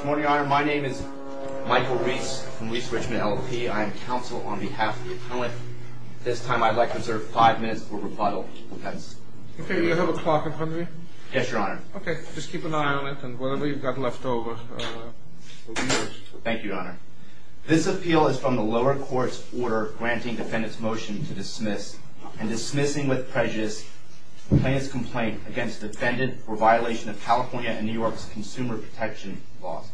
Good morning, Your Honor. My name is Michael Reese from Reese Richmond LLP. I am counsel on behalf of the appellant. At this time, I'd like to reserve five minutes for rebuttal. Okay. Do you have a clock in front of you? Yes, Your Honor. Okay. Just keep an eye on it and whatever you've got left over will be yours. Thank you, Your Honor. This appeal is from the lower court's order granting defendant's motion to dismiss and dismissing with prejudice the plaintiff's complaint against the defendant for violation of California and New York's consumer protection laws.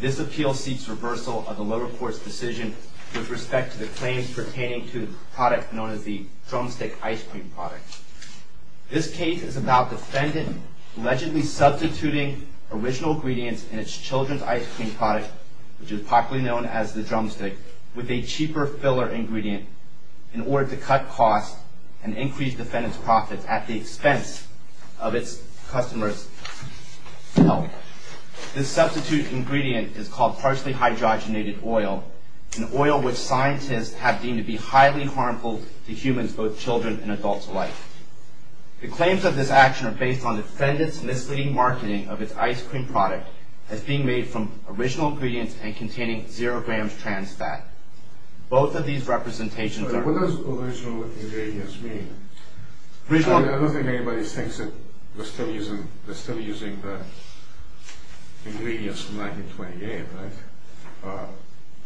This appeal seeks reversal of the lower court's decision with respect to the claims pertaining to the product known as the drumstick ice cream product. This case is about defendant allegedly substituting original ingredients in its children's ice cream product, which is popularly known as the drumstick, with a cheaper filler ingredient in order to cut costs and increase defendant's profits at the expense of its customer's health. This substitute ingredient is called partially hydrogenated oil, an oil which scientists have deemed to be highly harmful to humans, both children and adults alike. The claims of this action are based on defendant's misleading marketing of its ice cream product as being made from original ingredients and containing zero grams trans fat. Both of these representations are... What does original ingredients mean? I don't think anybody thinks that we're still using the ingredients from 1928, right?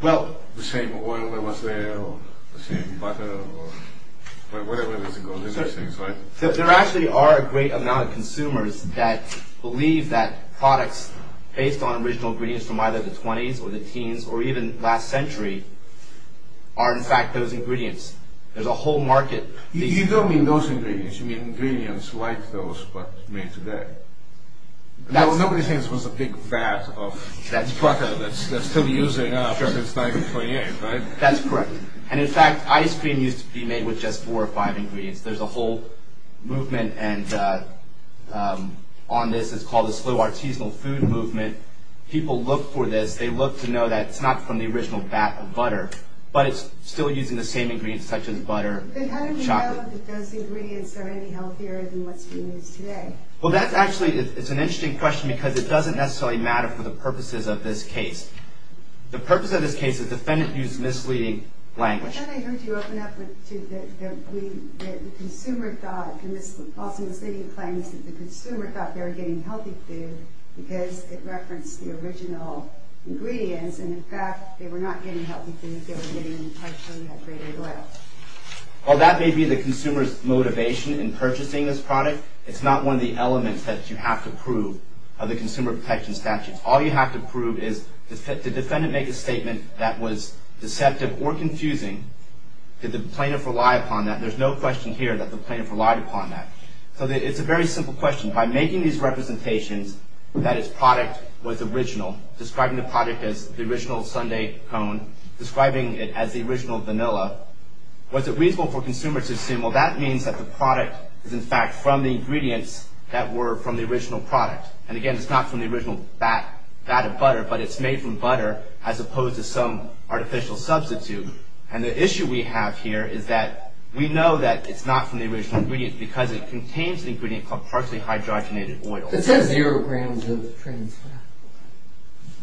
Well... The same oil that was there, or the same butter, or whatever it was ago, these are things, right? There actually are a great amount of consumers that believe that products based on original ingredients from either the 20s or the teens or even last century are, in fact, those ingredients. There's a whole market... You don't mean those ingredients. You mean ingredients like those, but made today. Nobody thinks it was a big vat of butter that's still being used now because it's 1928, right? That's correct. And, in fact, ice cream used to be made with just four or five ingredients. There's a whole movement on this. It's called the slow artisanal food movement. People look for this. They look to know that it's not from the original vat of butter, but it's still using the same ingredients such as butter and chocolate. But how do we know that those ingredients are any healthier than what's being used today? Well, that's actually... It's an interesting question because it doesn't necessarily matter for the purposes of this case. The purpose of this case is the defendant used misleading language. I thought I heard you open up to the consumer thought, and this false misleading claim is that the consumer thought they were getting healthy food because it referenced the original ingredients, and, in fact, they were not getting healthy food. They were getting partially hydrated oil. Well, that may be the consumer's motivation in purchasing this product. It's not one of the elements that you have to prove of the consumer protection statutes. All you have to prove is did the defendant make a statement that was deceptive or confusing? Did the plaintiff rely upon that? There's no question here that the plaintiff relied upon that. So it's a very simple question. By making these representations that its product was original, describing the product as the original sundae cone, describing it as the original vanilla, was it reasonable for consumers to assume, well, that means that the product is, in fact, from the ingredients that were from the original product. And, again, it's not from the original vat of butter, but it's made from butter as opposed to some artificial substitute. And the issue we have here is that we know that it's not from the original ingredients because it contains an ingredient called partially hydrogenated oil. It says zero grams of trans fat.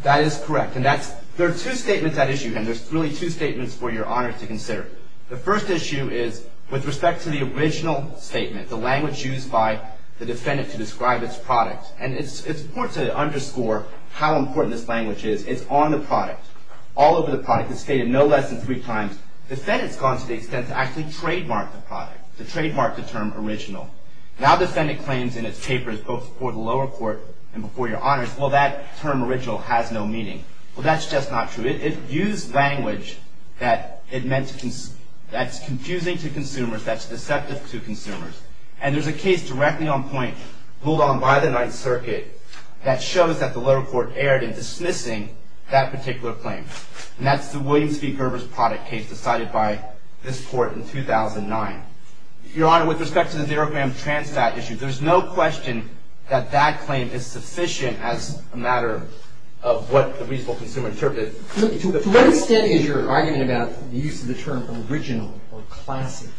That is correct. And there are two statements at issue here, and there's really two statements for Your Honor to consider. The first issue is with respect to the original statement, the language used by the defendant to describe its product, and it's important to underscore how important this language is. It's on the product, all over the product. It's stated no less than three times. The defendant's gone to the extent to actually trademark the product, to trademark the term original. Now the defendant claims in its papers, both before the lower court and before Your Honors, well, that term original has no meaning. Well, that's just not true. It used language that's confusing to consumers, that's deceptive to consumers. And there's a case directly on point, ruled on by the Ninth Circuit, that shows that the lower court erred in dismissing that particular claim. And that's the Williams v. Gerber's product case decided by this court in 2009. Your Honor, with respect to the zero gram trans fat issue, there's no question that that claim is sufficient as a matter of what the reasonable consumer interpreted. To what extent is your argument about the use of the term original or classic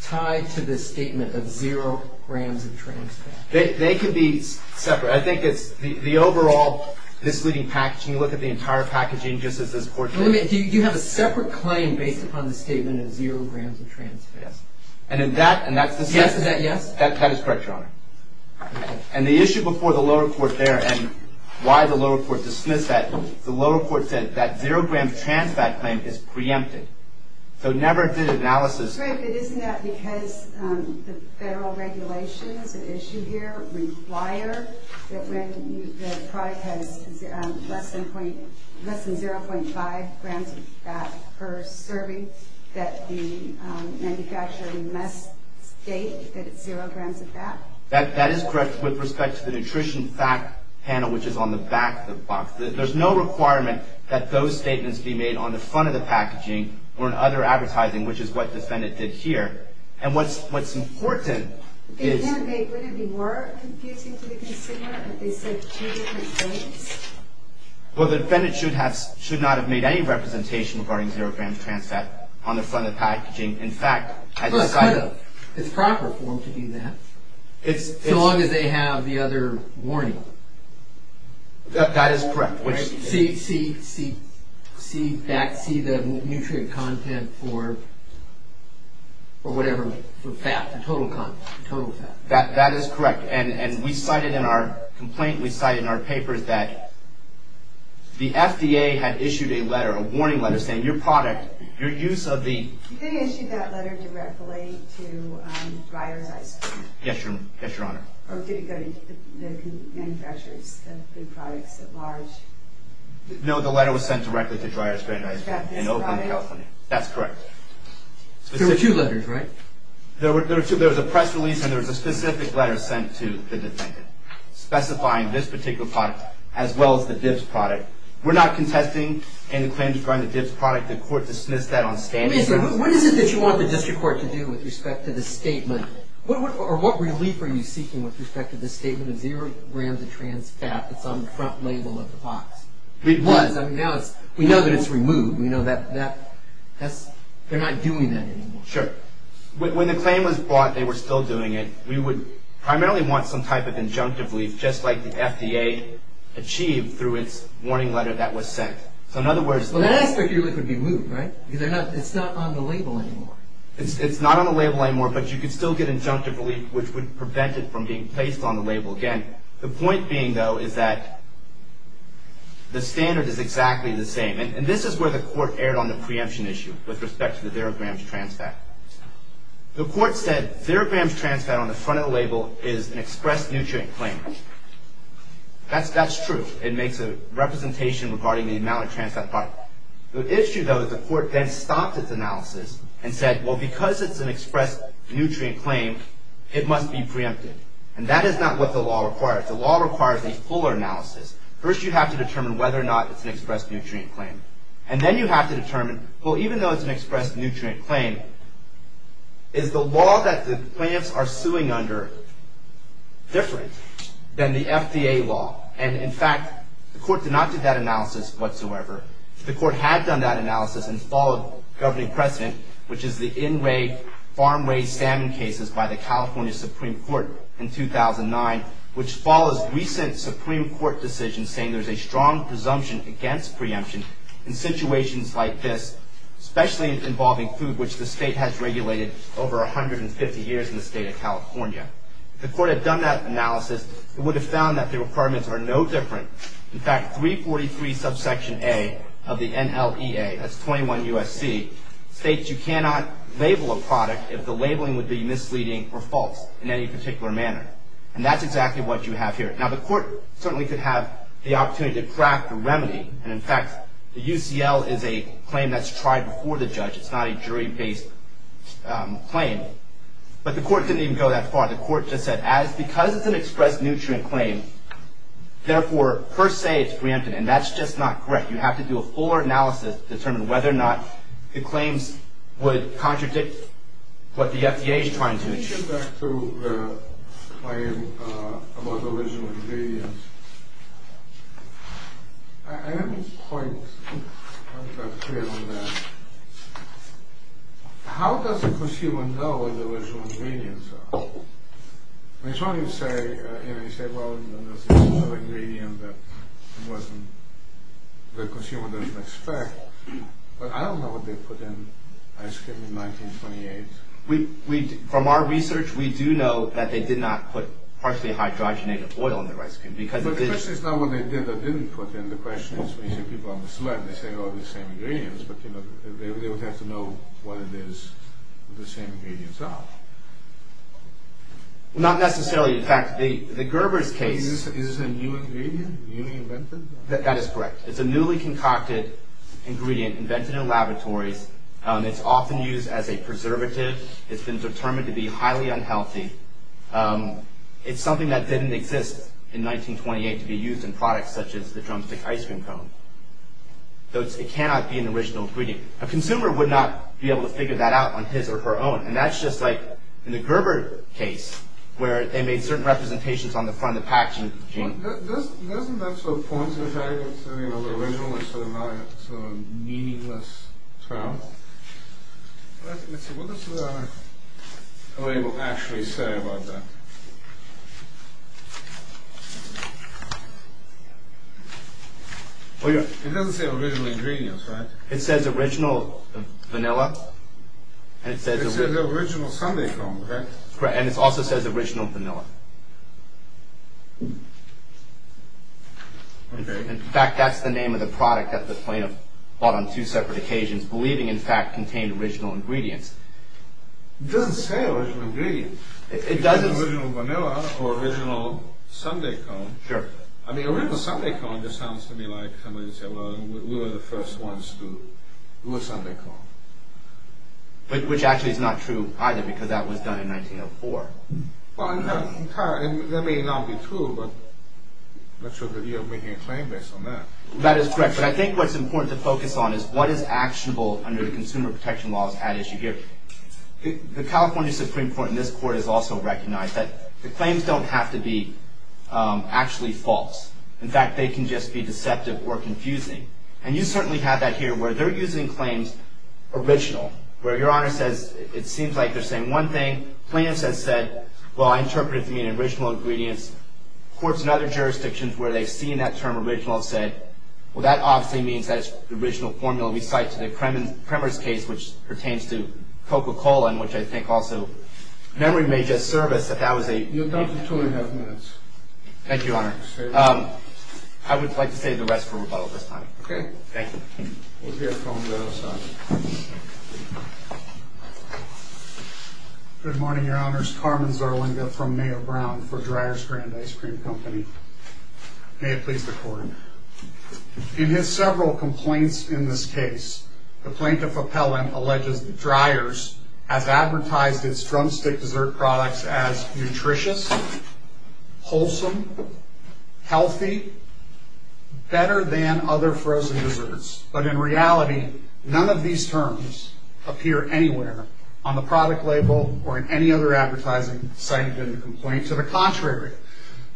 tied to this statement of zero grams of trans fat? They could be separate. I think it's the overall misleading packaging. Can you look at the entire packaging just as this court did? Wait a minute. Do you have a separate claim based upon the statement of zero grams of trans fat? Yes. And that's the statement? Yes. Is that yes? That is correct, Your Honor. And the issue before the lower court there and why the lower court dismissed that, the lower court said that zero gram trans fat claim is preempted. So it never did analysis. I'm sorry, but isn't that because the federal regulations at issue here require that when the product has less than 0.5 grams of fat per serving that the manufacturer must state that it's zero grams of fat? That is correct with respect to the nutrition fat panel, which is on the back of the box. There's no requirement that those statements be made on the front of the packaging or in other advertising, which is what the defendant did here. And what's important is- Then wouldn't it be more confusing to the consumer if they said two different things? Well, the defendant should not have made any representation regarding zero grams of trans fat on the front of the packaging. In fact, I decided- It's proper for them to do that, so long as they have the other warning. That is correct. See the nutrient content for whatever fat, the total content, the total fat. That is correct. And we cited in our complaint, we cited in our papers, that the FDA had issued a warning letter saying your product, your use of the- Did they issue that letter directly to Breyer's Ice Cream? Yes, Your Honor. Or did it go to the manufacturers of the products at large? No, the letter was sent directly to Breyer's Ice Cream in Oakland, California. That's correct. There were two letters, right? There were two. There was a press release and there was a specific letter sent to the defendant specifying this particular product as well as the Dibbs product. We're not contesting any claims regarding the Dibbs product. The court dismissed that on standing- What is it that you want the district court to do with respect to the statement? Or what relief are you seeking with respect to the statement of zero grams of trans fat that's on the front label of the box? It was. I mean, now we know that it's removed. We know that they're not doing that anymore. Sure. When the claim was brought, they were still doing it. We would primarily want some type of injunctive relief, just like the FDA achieved through its warning letter that was sent. So in other words- Well, that aspect really could be moved, right? Because it's not on the label anymore. It's not on the label anymore, but you could still get injunctive relief, which would prevent it from being placed on the label again. The point being, though, is that the standard is exactly the same. And this is where the court erred on the preemption issue with respect to the zero grams of trans fat. The court said zero grams of trans fat on the front of the label is an expressed nutrient claim. That's true. It makes a representation regarding the amount of trans fat product. The issue, though, is the court then stopped its analysis and said, well, because it's an expressed nutrient claim, it must be preempted. And that is not what the law requires. The law requires a fuller analysis. First, you have to determine whether or not it's an expressed nutrient claim. And then you have to determine, well, even though it's an expressed nutrient claim, is the law that the plaintiffs are suing under different than the FDA law? And, in fact, the court did not do that analysis whatsoever. The court had done that analysis and followed governing precedent, which is the in-way farm-raised salmon cases by the California Supreme Court in 2009, which follows recent Supreme Court decisions saying there's a strong presumption against preemption in situations like this, especially involving food, which the state has regulated over 150 years in the state of California. If the court had done that analysis, it would have found that the requirements are no different. In fact, 343 subsection A of the NLEA, that's 21 U.S.C., states you cannot label a product if the labeling would be misleading or false in any particular manner. And that's exactly what you have here. Now, the court certainly could have the opportunity to craft a remedy. And, in fact, the UCL is a claim that's tried before the judge. It's not a jury-based claim. But the court didn't even go that far. The court just said, because it's an expressed nutrient claim, therefore, per se, it's preempted. And that's just not correct. You have to do a fuller analysis to determine whether or not the claims would contradict what the FDA is trying to achieve. Let me get back to the claim about the original ingredients. I have a point. I'm not clear on that. How does a consumer know what the original ingredients are? I mean, it's funny you say, you know, you say, well, there's this other ingredient that the consumer doesn't expect. But I don't know what they put in ice cream in 1928. From our research, we do know that they did not put partially hydrogenated oil in their ice cream. But the question is not what they did or didn't put in. The question is, we see people on the slide and they say, oh, they're the same ingredients. But, you know, they would have to know what it is the same ingredients are. Not necessarily. In fact, the Gerber's case. Is this a new ingredient, newly invented? That is correct. It's a newly concocted ingredient invented in laboratories. It's often used as a preservative. It's been determined to be highly unhealthy. It's something that didn't exist in 1928 to be used in products such as the drumstick ice cream cone. It cannot be an original ingredient. A consumer would not be able to figure that out on his or her own. And that's just like in the Gerber case, where they made certain representations on the front of the packaging. Doesn't that sort of point to the fact that it's original instead of meaningless? What does the label actually say about that? It doesn't say original ingredients, right? It says original vanilla. It says original sundae cone, right? And it also says original vanilla. In fact, that's the name of the product that the plaintiff bought on two separate occasions, believing, in fact, contained original ingredients. It doesn't say original ingredients. It doesn't. It says original vanilla or original sundae cone. Sure. I mean, original sundae cone just sounds to me like somebody would say, well, we were the first ones to do a sundae cone. Which actually is not true either, because that was done in 1904. Well, that may not be true, but you're making a claim based on that. That is correct. But I think what's important to focus on is what is actionable under the consumer protection laws at issue here. The California Supreme Court in this court has also recognized that the claims don't have to be actually false. In fact, they can just be deceptive or confusing. And you certainly have that here, where they're using claims original, where your Honor says it seems like they're saying one thing. The plaintiff has said, well, I interpret it to mean original ingredients. Courts in other jurisdictions where they've seen that term original have said, well, that obviously means that it's the original formula we cite to the Kremers case, which pertains to Coca-Cola and which I think also memory may disservice that that was a- Thank you, Your Honor. I would like to say the rest from above this time. Okay. Thank you. Good morning, Your Honors. Carmen Zarlinga from Mayo Brown for Dreyer's Grand Ice Cream Company. May it please the Court. In his several complaints in this case, the plaintiff appellant alleges that Dreyer's has advertised its drumstick dessert products as healthy, better than other frozen desserts. But in reality, none of these terms appear anywhere on the product label or in any other advertising cited in the complaint. To the contrary,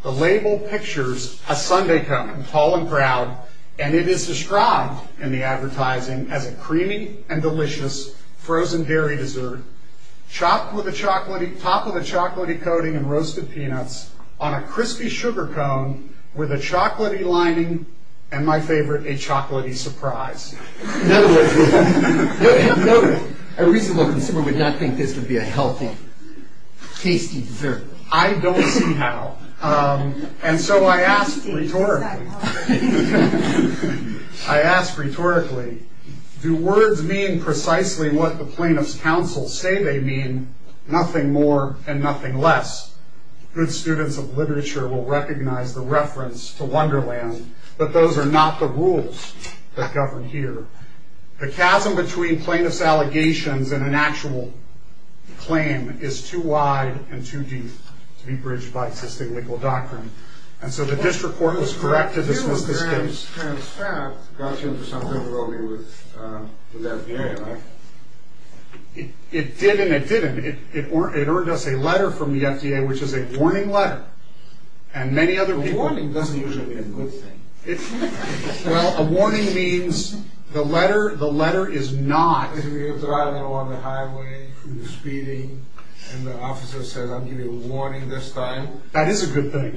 the label pictures a sundae cone, tall and proud, and it is described in the advertising as a creamy and delicious frozen dairy dessert topped with a chocolatey coating and roasted peanuts on a crispy sugar cone with a chocolatey lining and, my favorite, a chocolatey surprise. A reasonable consumer would not think this would be a healthy, tasty dessert. I don't see how. And so I ask rhetorically, I ask rhetorically, do words mean precisely what the plaintiff's counsel say they mean, nothing more and nothing less? Good students of literature will recognize the reference to Wonderland, but those are not the rules that govern here. The chasm between plaintiff's allegations and an actual claim is too wide and too deep to be bridged by existing legal doctrine. And so the district court was correct to dismiss this case. Well, it was a trans-fact. It got you into some trouble with the FDA, right? It didn't. It didn't. It earned us a letter from the FDA, which is a warning letter, and many other people... A warning doesn't usually mean a good thing. Well, a warning means the letter is not... If you're driving along the highway, speeding, and the officer says, I'm giving you a warning this time... That is a good thing.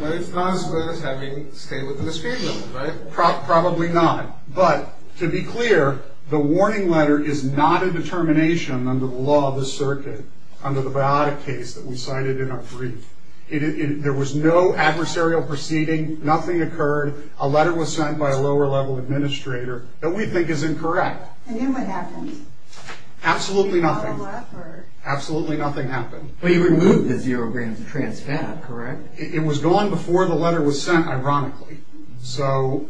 But it's not as good as having to stay within the speed limit, right? Probably not. But to be clear, the warning letter is not a determination under the law of the circuit, under the biotic case that we cited in our brief. There was no adversarial proceeding. Nothing occurred. A letter was sent by a lower-level administrator that we think is incorrect. And then what happened? Absolutely nothing. Absolutely nothing happened. But you removed the zero-gram trans-fact, correct? It was gone before the letter was sent, ironically. So,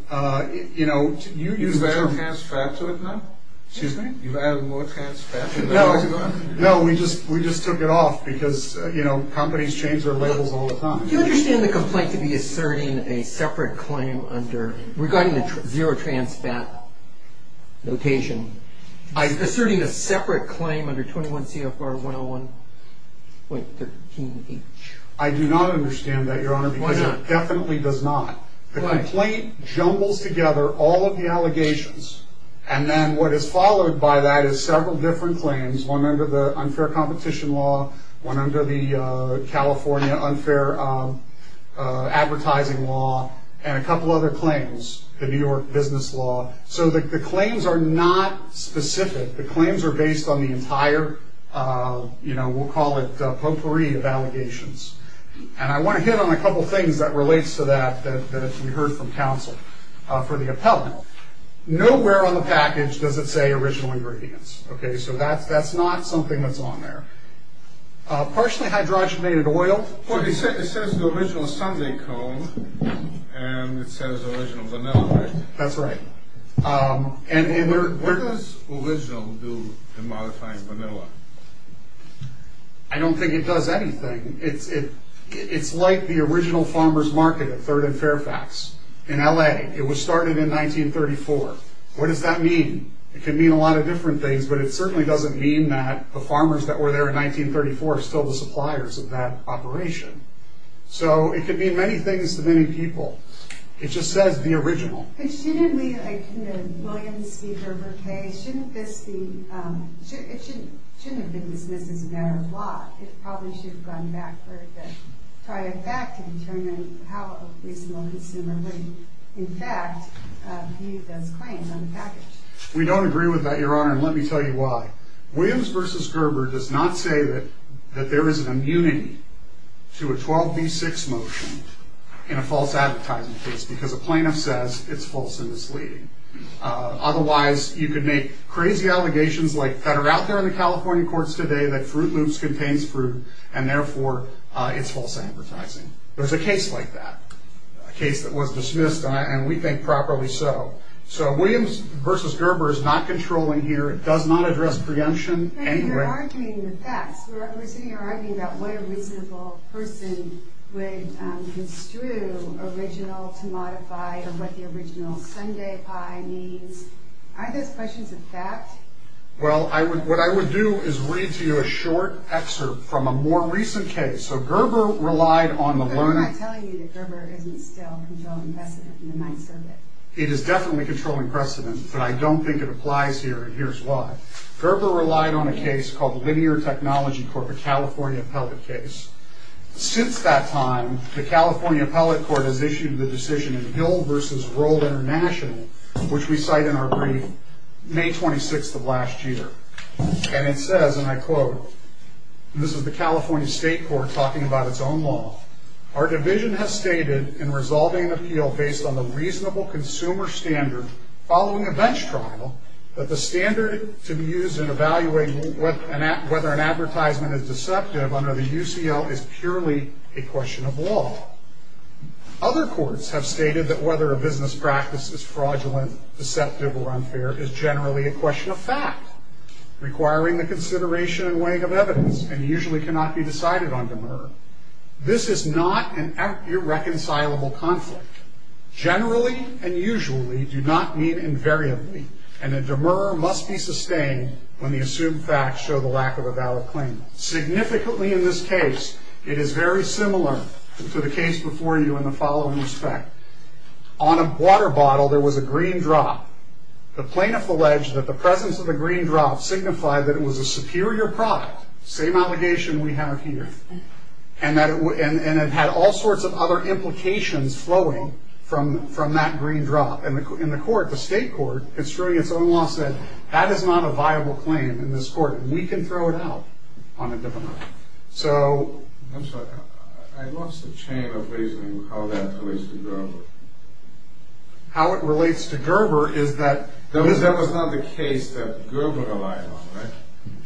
you know... You've added trans-fact to it now? Excuse me? You've added more trans-fact to the letter? No, we just took it off, because, you know, companies change their labels all the time. Do you understand the complaint to be asserting a separate claim under... Regarding the zero trans-fact notation, asserting a separate claim under 21 CFR 101.13H? I do not understand that, Your Honor, because it definitely does not. The complaint jumbles together all of the allegations, and then what is followed by that is several different claims, one under the unfair competition law, one under the California unfair advertising law, and a couple other claims, the New York business law. So the claims are not specific. The claims are based on the entire, you know, we'll call it potpourri of allegations. And I want to hit on a couple things that relates to that that we heard from counsel for the appellant. Nowhere on the package does it say original ingredients. Okay? So that's not something that's on there. Partially hydrogenated oil... Well, it says the original sundae cone, and it says original vanilla, right? That's right. And in their... What does original do in modifying vanilla? I don't think it does anything. It's like the original farmer's market at 3rd and Fairfax in L.A. It was started in 1934. What does that mean? It could mean a lot of different things, but it certainly doesn't mean that the farmers that were there in 1934 are still the suppliers of that operation. So it could mean many things to many people. It just says the original. But shouldn't we... I couldn't have... William's speaker, okay? Shouldn't this be... It shouldn't have been dismissed as a matter of law. It probably should have gone back for the... Try it back and determine how a reasonable consumer would, in fact, view those claims on the package. We don't agree with that, Your Honor, and let me tell you why. Williams v. Gerber does not say that there is an immunity to a 12b-6 motion in a false advertisement case because a plaintiff says it's false and misleading. Otherwise, you could make crazy allegations that are out there in the California courts today that Fruit Loops contains fruit and, therefore, it's false advertising. There's a case like that, a case that was dismissed, and we think properly so. So Williams v. Gerber is not controlling here. It does not address preemption anyway. But you're arguing the facts. We're sitting here arguing about what a reasonable person would construe original to modify or what the original sundae pie means. Aren't those questions a fact? Well, what I would do is read to you a short excerpt from a more recent case. So Gerber relied on the learner... But I'm not telling you that Gerber isn't still controlling precedent in the Ninth Circuit. It is definitely controlling precedent, but I don't think it applies here, and here's why. Gerber relied on a case called Linear Technology Court, a California appellate case. Since that time, the California appellate court has issued the decision in Hill v. Roll International, which we cite in our brief, May 26th of last year. And it says, and I quote, and this is the California State Court talking about its own law, our division has stated in resolving an appeal based on the reasonable consumer standard following a bench trial that the standard to be used in evaluating whether an advertisement is deceptive under the UCL is purely a question of law. Other courts have stated that whether a business practice is fraudulent, deceptive, or unfair is generally a question of fact, requiring the consideration and weighing of evidence, and usually cannot be decided on demur. This is not an irreconcilable conflict. Generally and usually do not mean invariably, and a demur must be sustained when the assumed facts show the lack of a valid claim. Significantly in this case, it is very similar to the case before you in the following respect. On a water bottle, there was a green drop. The plaintiff alleged that the presence of the green drop signified that it was a superior product, same allegation we have here, and it had all sorts of other implications flowing from that green drop. And the court, the state court, construing its own law, said, that is not a viable claim in this court, and we can throw it out on a demur. I'm sorry, I lost the chain of reasoning of how that relates to Gerber. How it relates to Gerber is that... That was not the case that Gerber relied on, right?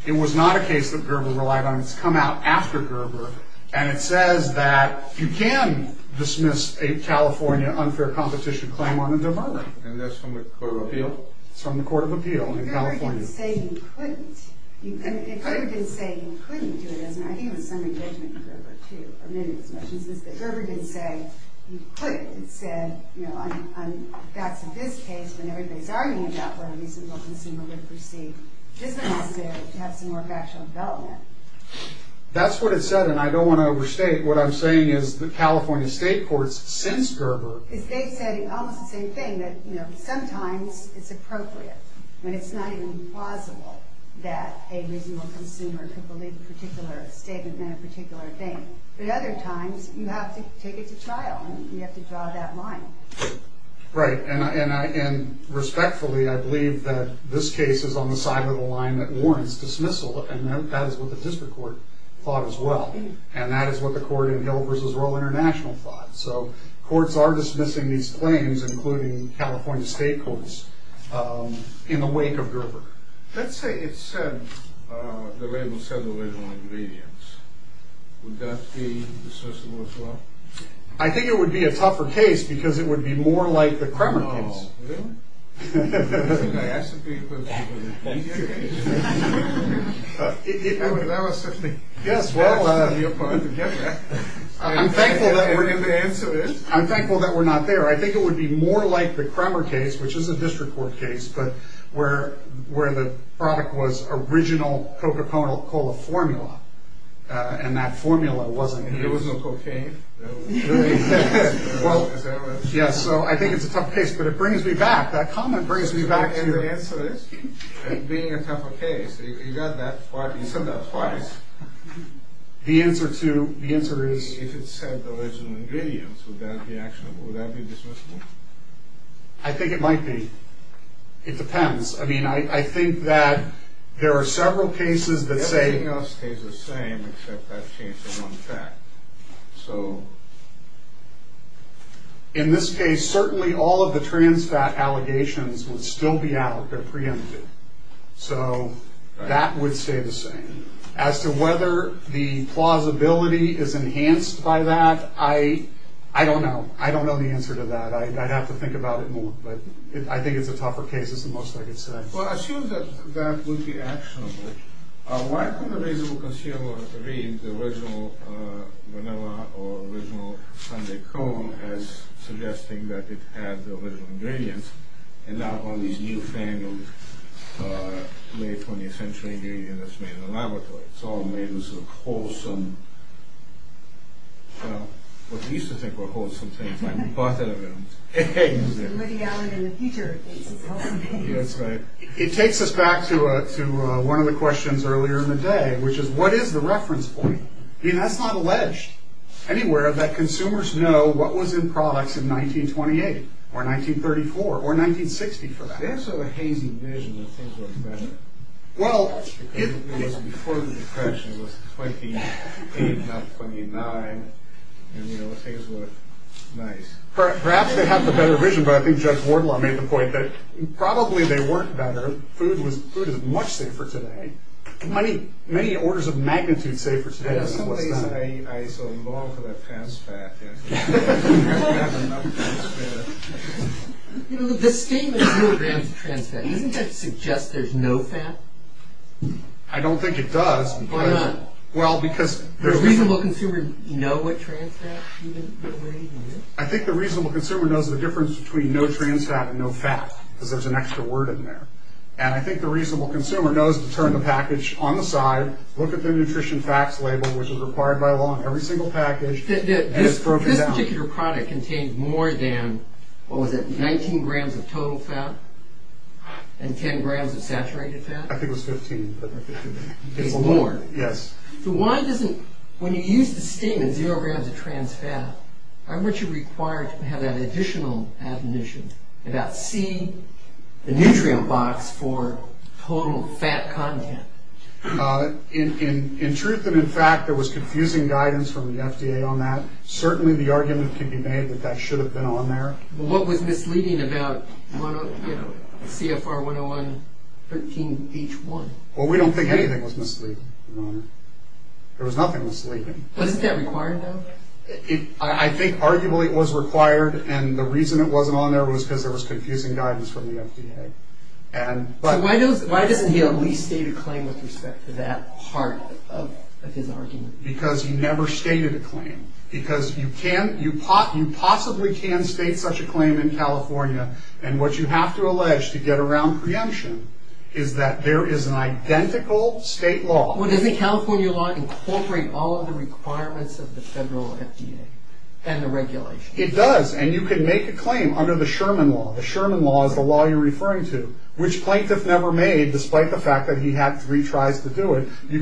It was not a case that Gerber relied on. It's come out after Gerber, and it says that you can dismiss a California unfair competition claim on a demur. And that's from the Court of Appeal? It's from the Court of Appeal in California. It could have been saying you couldn't do it. I think there was some engagement with Gerber, too. Gerber didn't say you couldn't. It said, on the facts of this case, when everybody's arguing about what a reasonable consumer would perceive, this one has to have some more factual development. That's what it said, and I don't want to overstate. What I'm saying is the California state courts, since Gerber... They said almost the same thing, that sometimes it's appropriate when it's not even plausible that a reasonable consumer could believe a particular statement and a particular thing. But other times, you have to take it to trial, and you have to draw that line. Right, and respectfully, I believe that this case is on the side of the line that warrants dismissal, and that is what the district court thought as well. And that is what the court in Hill v. Royal International thought. So courts are dismissing these claims, including California state courts. In the wake of Gerber. Let's say it said... The label said original ingredients. Would that be dismissable as well? I think it would be a tougher case because it would be more like the Kremer case. Oh, really? I think I asked a few questions about the Kremer case. Thank you. That was such a... Yes, well... I'm thankful that we're not there. I think it would be more like the Kremer case, which is a district court case, but where the product was original Coca-Cola formula, and that formula wasn't here. There was no cocaine. Really? Yes, so I think it's a tough case, but it brings me back. That comment brings me back to... And the answer is, being a tougher case, you said that twice. The answer is... If it said original ingredients, would that be dismissable? I think it might be. It depends. I think that there are several cases that say... Everything else stays the same, except that change in one fact. So... In this case, certainly all of the trans fat allegations would still be out. They're preempted. So that would stay the same. As to whether the plausibility is enhanced by that, I don't know. I don't know the answer to that. I'd have to think about it more. But I think it's a tougher case, is the most I could say. Well, assume that that would be actionable. Why couldn't a reasonable consumer read the original vanilla or original sundae cone as suggesting that it had the original ingredients, and not all these newfangled late 20th century ingredients made in a laboratory? It's all made with wholesome... Well, what used to think were wholesome things. We bought that available. Woody Allen in the future thinks it's wholesome. It takes us back to one of the questions earlier in the day, which is, what is the reference point? That's not alleged anywhere that consumers know what was in products in 1928, or 1934, or 1960 for that matter. There's sort of a hazy vision that things were better. It was before the Depression. It was 1928, not 1929. Things were nice. Perhaps they have the better vision, but I think Judge Wardlaw made the point that probably they weren't better. Food is much safer today. Many orders of magnitude safer today than it was then. In some ways, I so long for that trans fat. I don't have enough trans fat. The statement that there's no grams of trans fat, doesn't that suggest there's no fat? I don't think it does. Why not? Does a reasonable consumer know what trans fat is? I think the reasonable consumer knows the difference between no trans fat and no fat, because there's an extra word in there. I think the reasonable consumer knows to turn the package on the side, look at the nutrition facts label, which is required by law in every single package, and it's broken down. This particular product contained more than 19 grams of total fat and 10 grams of saturated fat? I think it was 15. More? Yes. When you use the statement, zero grams of trans fat, aren't you required to have that additional admonition about C, the nutrient box for total fat content? In truth and in fact, there was confusing guidance from the FDA on that. Certainly the argument can be made that that should have been on there. What was misleading about CFR 101, 13, each one? Well, we don't think anything was misleading, Your Honor. There was nothing misleading. Wasn't that required, though? I think arguably it was required, and the reason it wasn't on there was because there was confusing guidance from the FDA. Why doesn't he at least state a claim with respect to that part of his argument? Because he never stated a claim. Because you possibly can state such a claim in California, and what you have to allege to get around preemption is that there is an identical state law... Well, doesn't California law incorporate all of the requirements of the federal FDA and the regulations? It does, and you can make a claim under the Sherman law. The Sherman law is the law you're referring to, which plaintiff never made, despite the fact that he had three tries to do it. In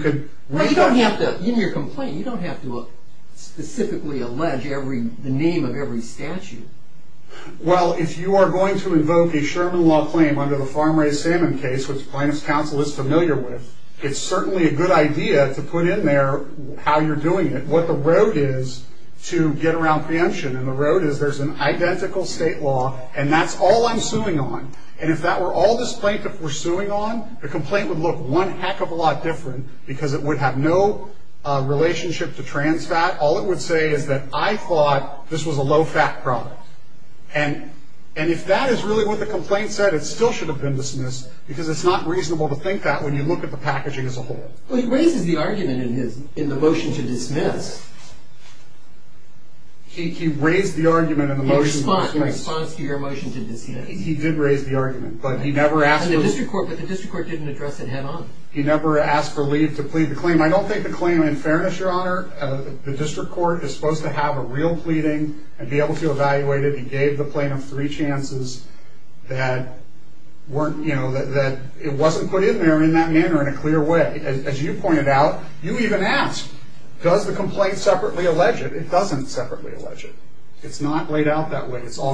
your complaint, you don't have to specifically allege the name of every statute. Well, if you are going to invoke a Sherman law claim under the farm-raised salmon case, which plaintiff's counsel is familiar with, it's certainly a good idea to put in there how you're doing it, what the road is to get around preemption, and the road is there's an identical state law, and that's all I'm suing on. And if that were all this plaintiff was suing on, the complaint would look one heck of a lot different, because it would have no relationship to trans fat. All it would say is that I thought this was a low-fat product. And if that is really what the complaint said, it still should have been dismissed, because it's not reasonable to think that when you look at the packaging as a whole. But he raises the argument in the motion to dismiss. He raised the argument in the motion to dismiss. The response to your motion to dismiss? He did raise the argument. But the district court didn't address it head-on. He never asked for leave to plead the claim. I don't think the claim, in fairness, your honor, the district court is supposed to have a real pleading, and be able to evaluate it. He gave the plaintiff three chances that it wasn't put in there in that manner in a clear way. As you pointed out, you even asked, does the complaint separately allege it? It doesn't separately allege it. It's all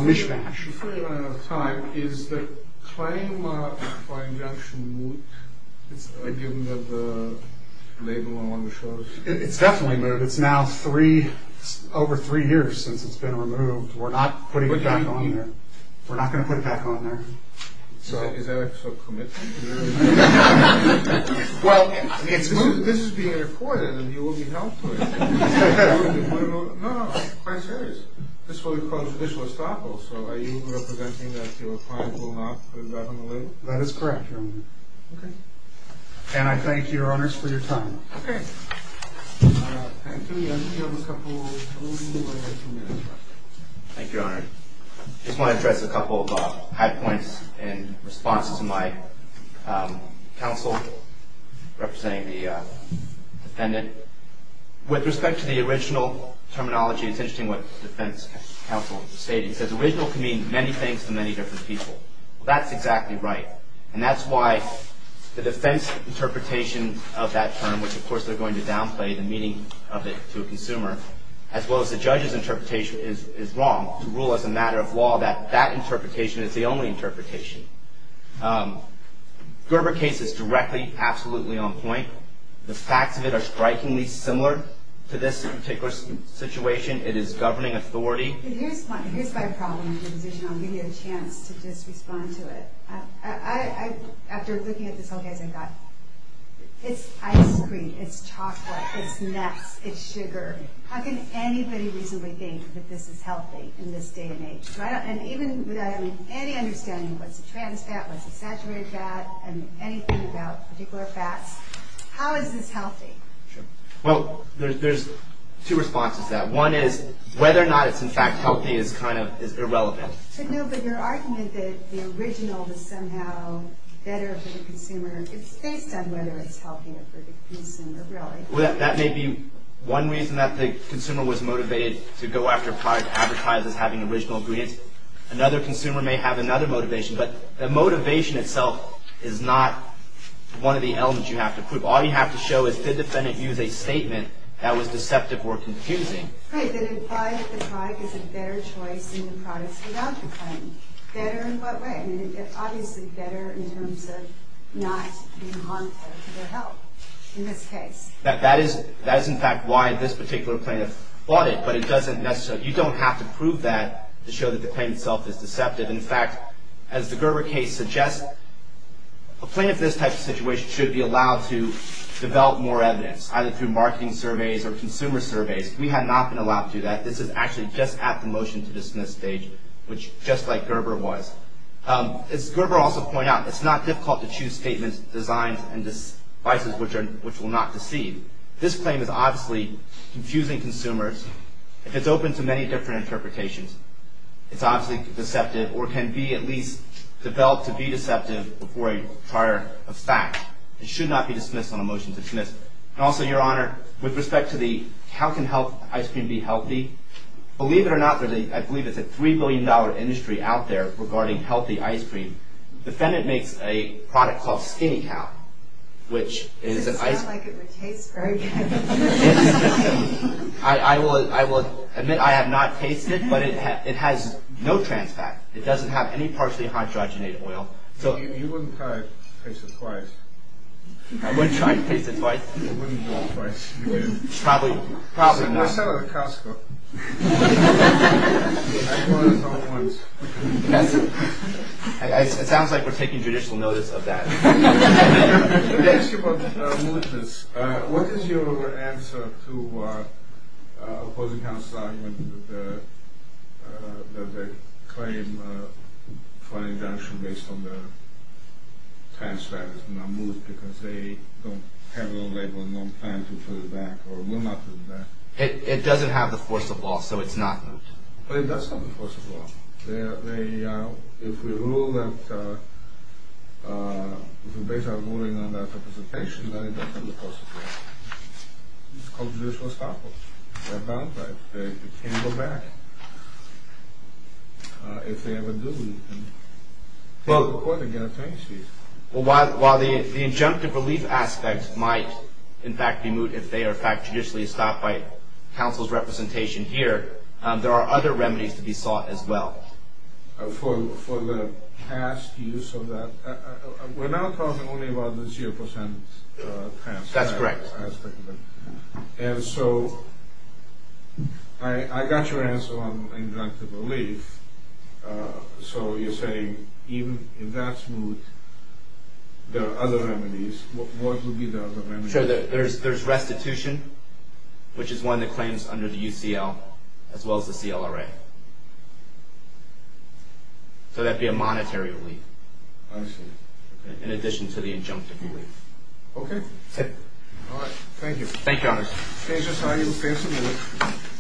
mishmash. Is the claim for injunction moot, given that the label no longer shows? It's definitely moot. It's now three, over three years since it's been removed. We're not putting it back on there. We're not going to put it back on there. Is Eric so committed? Well, this is being recorded, and you will be held to it. No, no, no, I'm quite serious. This will be called a judicial estoppel, so are you representing that your client will not put it back on the label? That is correct, your honor. And I thank your honors for your time. Thank you. Thank you, your honor. I just want to address a couple of high points in response to my counsel representing the defendant. With respect to the original terminology, it's interesting what the defense counsel stated. He said the original can mean many things to many different people. Well, that's exactly right. And that's why the defense interpretation of that term, which of course they're going to downplay, the meaning of it to a consumer, as well as the judge's interpretation, is wrong to rule as a matter of law that that interpretation is the only interpretation. Gerber case is directly, absolutely on point. The facts of it are strikingly similar to this particular situation. It is governing authority. Here's my problem with your position. I'll give you a chance to just respond to it. After looking at this whole case, I thought, it's ice cream, it's chocolate, it's nuts, it's sugar. How can anybody reasonably think that this is healthy in this day and age? And even without any understanding of what's a trans fat, what's a saturated fat, and anything about particular fats, how is this healthy? Well, there's two responses to that. One is whether or not it's in fact healthy is kind of irrelevant. But no, but your argument that the original is somehow better for the consumer, it's based on whether it's healthy for the consumer, really. Well, that may be one reason that the consumer was motivated to go after a product advertised as having original ingredients. Another consumer may have another motivation, but the motivation itself is not one of the elements you have to prove. All you have to show is did the defendant use a statement that was deceptive or confusing. Great, then imply that the product is a better choice than the products without the claim. Better in what way? I mean, obviously better in terms of not being harmful to their health in this case. That is in fact why this particular plaintiff bought it, but it doesn't necessarily you don't have to prove that to show that the claim itself is deceptive. In fact, as the Gerber case suggests, a plaintiff in this type of situation should be allowed to develop more evidence, either through marketing surveys or consumer surveys. We have not been allowed to do that. This is actually just at the motion to dismiss stage, which just like Gerber was. As Gerber also pointed out, it's not difficult to choose statements, designs, and devices which will not deceive. This claim is obviously confusing consumers. If it's open to many different interpretations, it's obviously deceptive or can be at least developed to be deceptive before a prior fact. It should not be dismissed on a motion to dismiss. And also, Your Honor, with respect to the how can health ice cream be healthy, believe it or not, I believe it's a $3 billion industry out there regarding healthy ice cream. The defendant makes a product called Skinny Cow, which is an ice cream. Does it sound like it would taste very good? I will admit I have not tasted it, but it has no trans fat. It doesn't have any partially hydrogenated oil. You wouldn't try to taste it twice. I wouldn't try to taste it twice? You wouldn't do it twice. You wouldn't. Probably not. I saw it at Costco. I ordered some at once. It sounds like we're taking judicial notice of that. Let me ask you about malignancy. What is your answer to opposing counsel's argument that they claim a fine injunction based on their trans fat is not moved because they don't have a label and don't plan to put it back or will not put it back? It doesn't have the force of law, so it's not moved. That's not the force of law. If we rule that if we base our ruling on that representation, then it doesn't have the force of law. It's called judicial estoppel. They're bound by it. They can't go back. If they ever do, we can take them to court and get a tenancy. While the injunctive relief aspect might, in fact, be moved if they are, in fact, judicially stopped by counsel's representation here, there are other remedies to be sought as well. For the past use of that? We're now talking only about the 0% That's correct. And so I got your answer on injunctive relief. So you're saying even if that's moved, there are other remedies. What would be the other remedies? There's restitution, which is one that claims under the UCL as well as the CLRA. So that would be a monetary relief. I see. In addition to the injunctive relief. Okay. Thank you.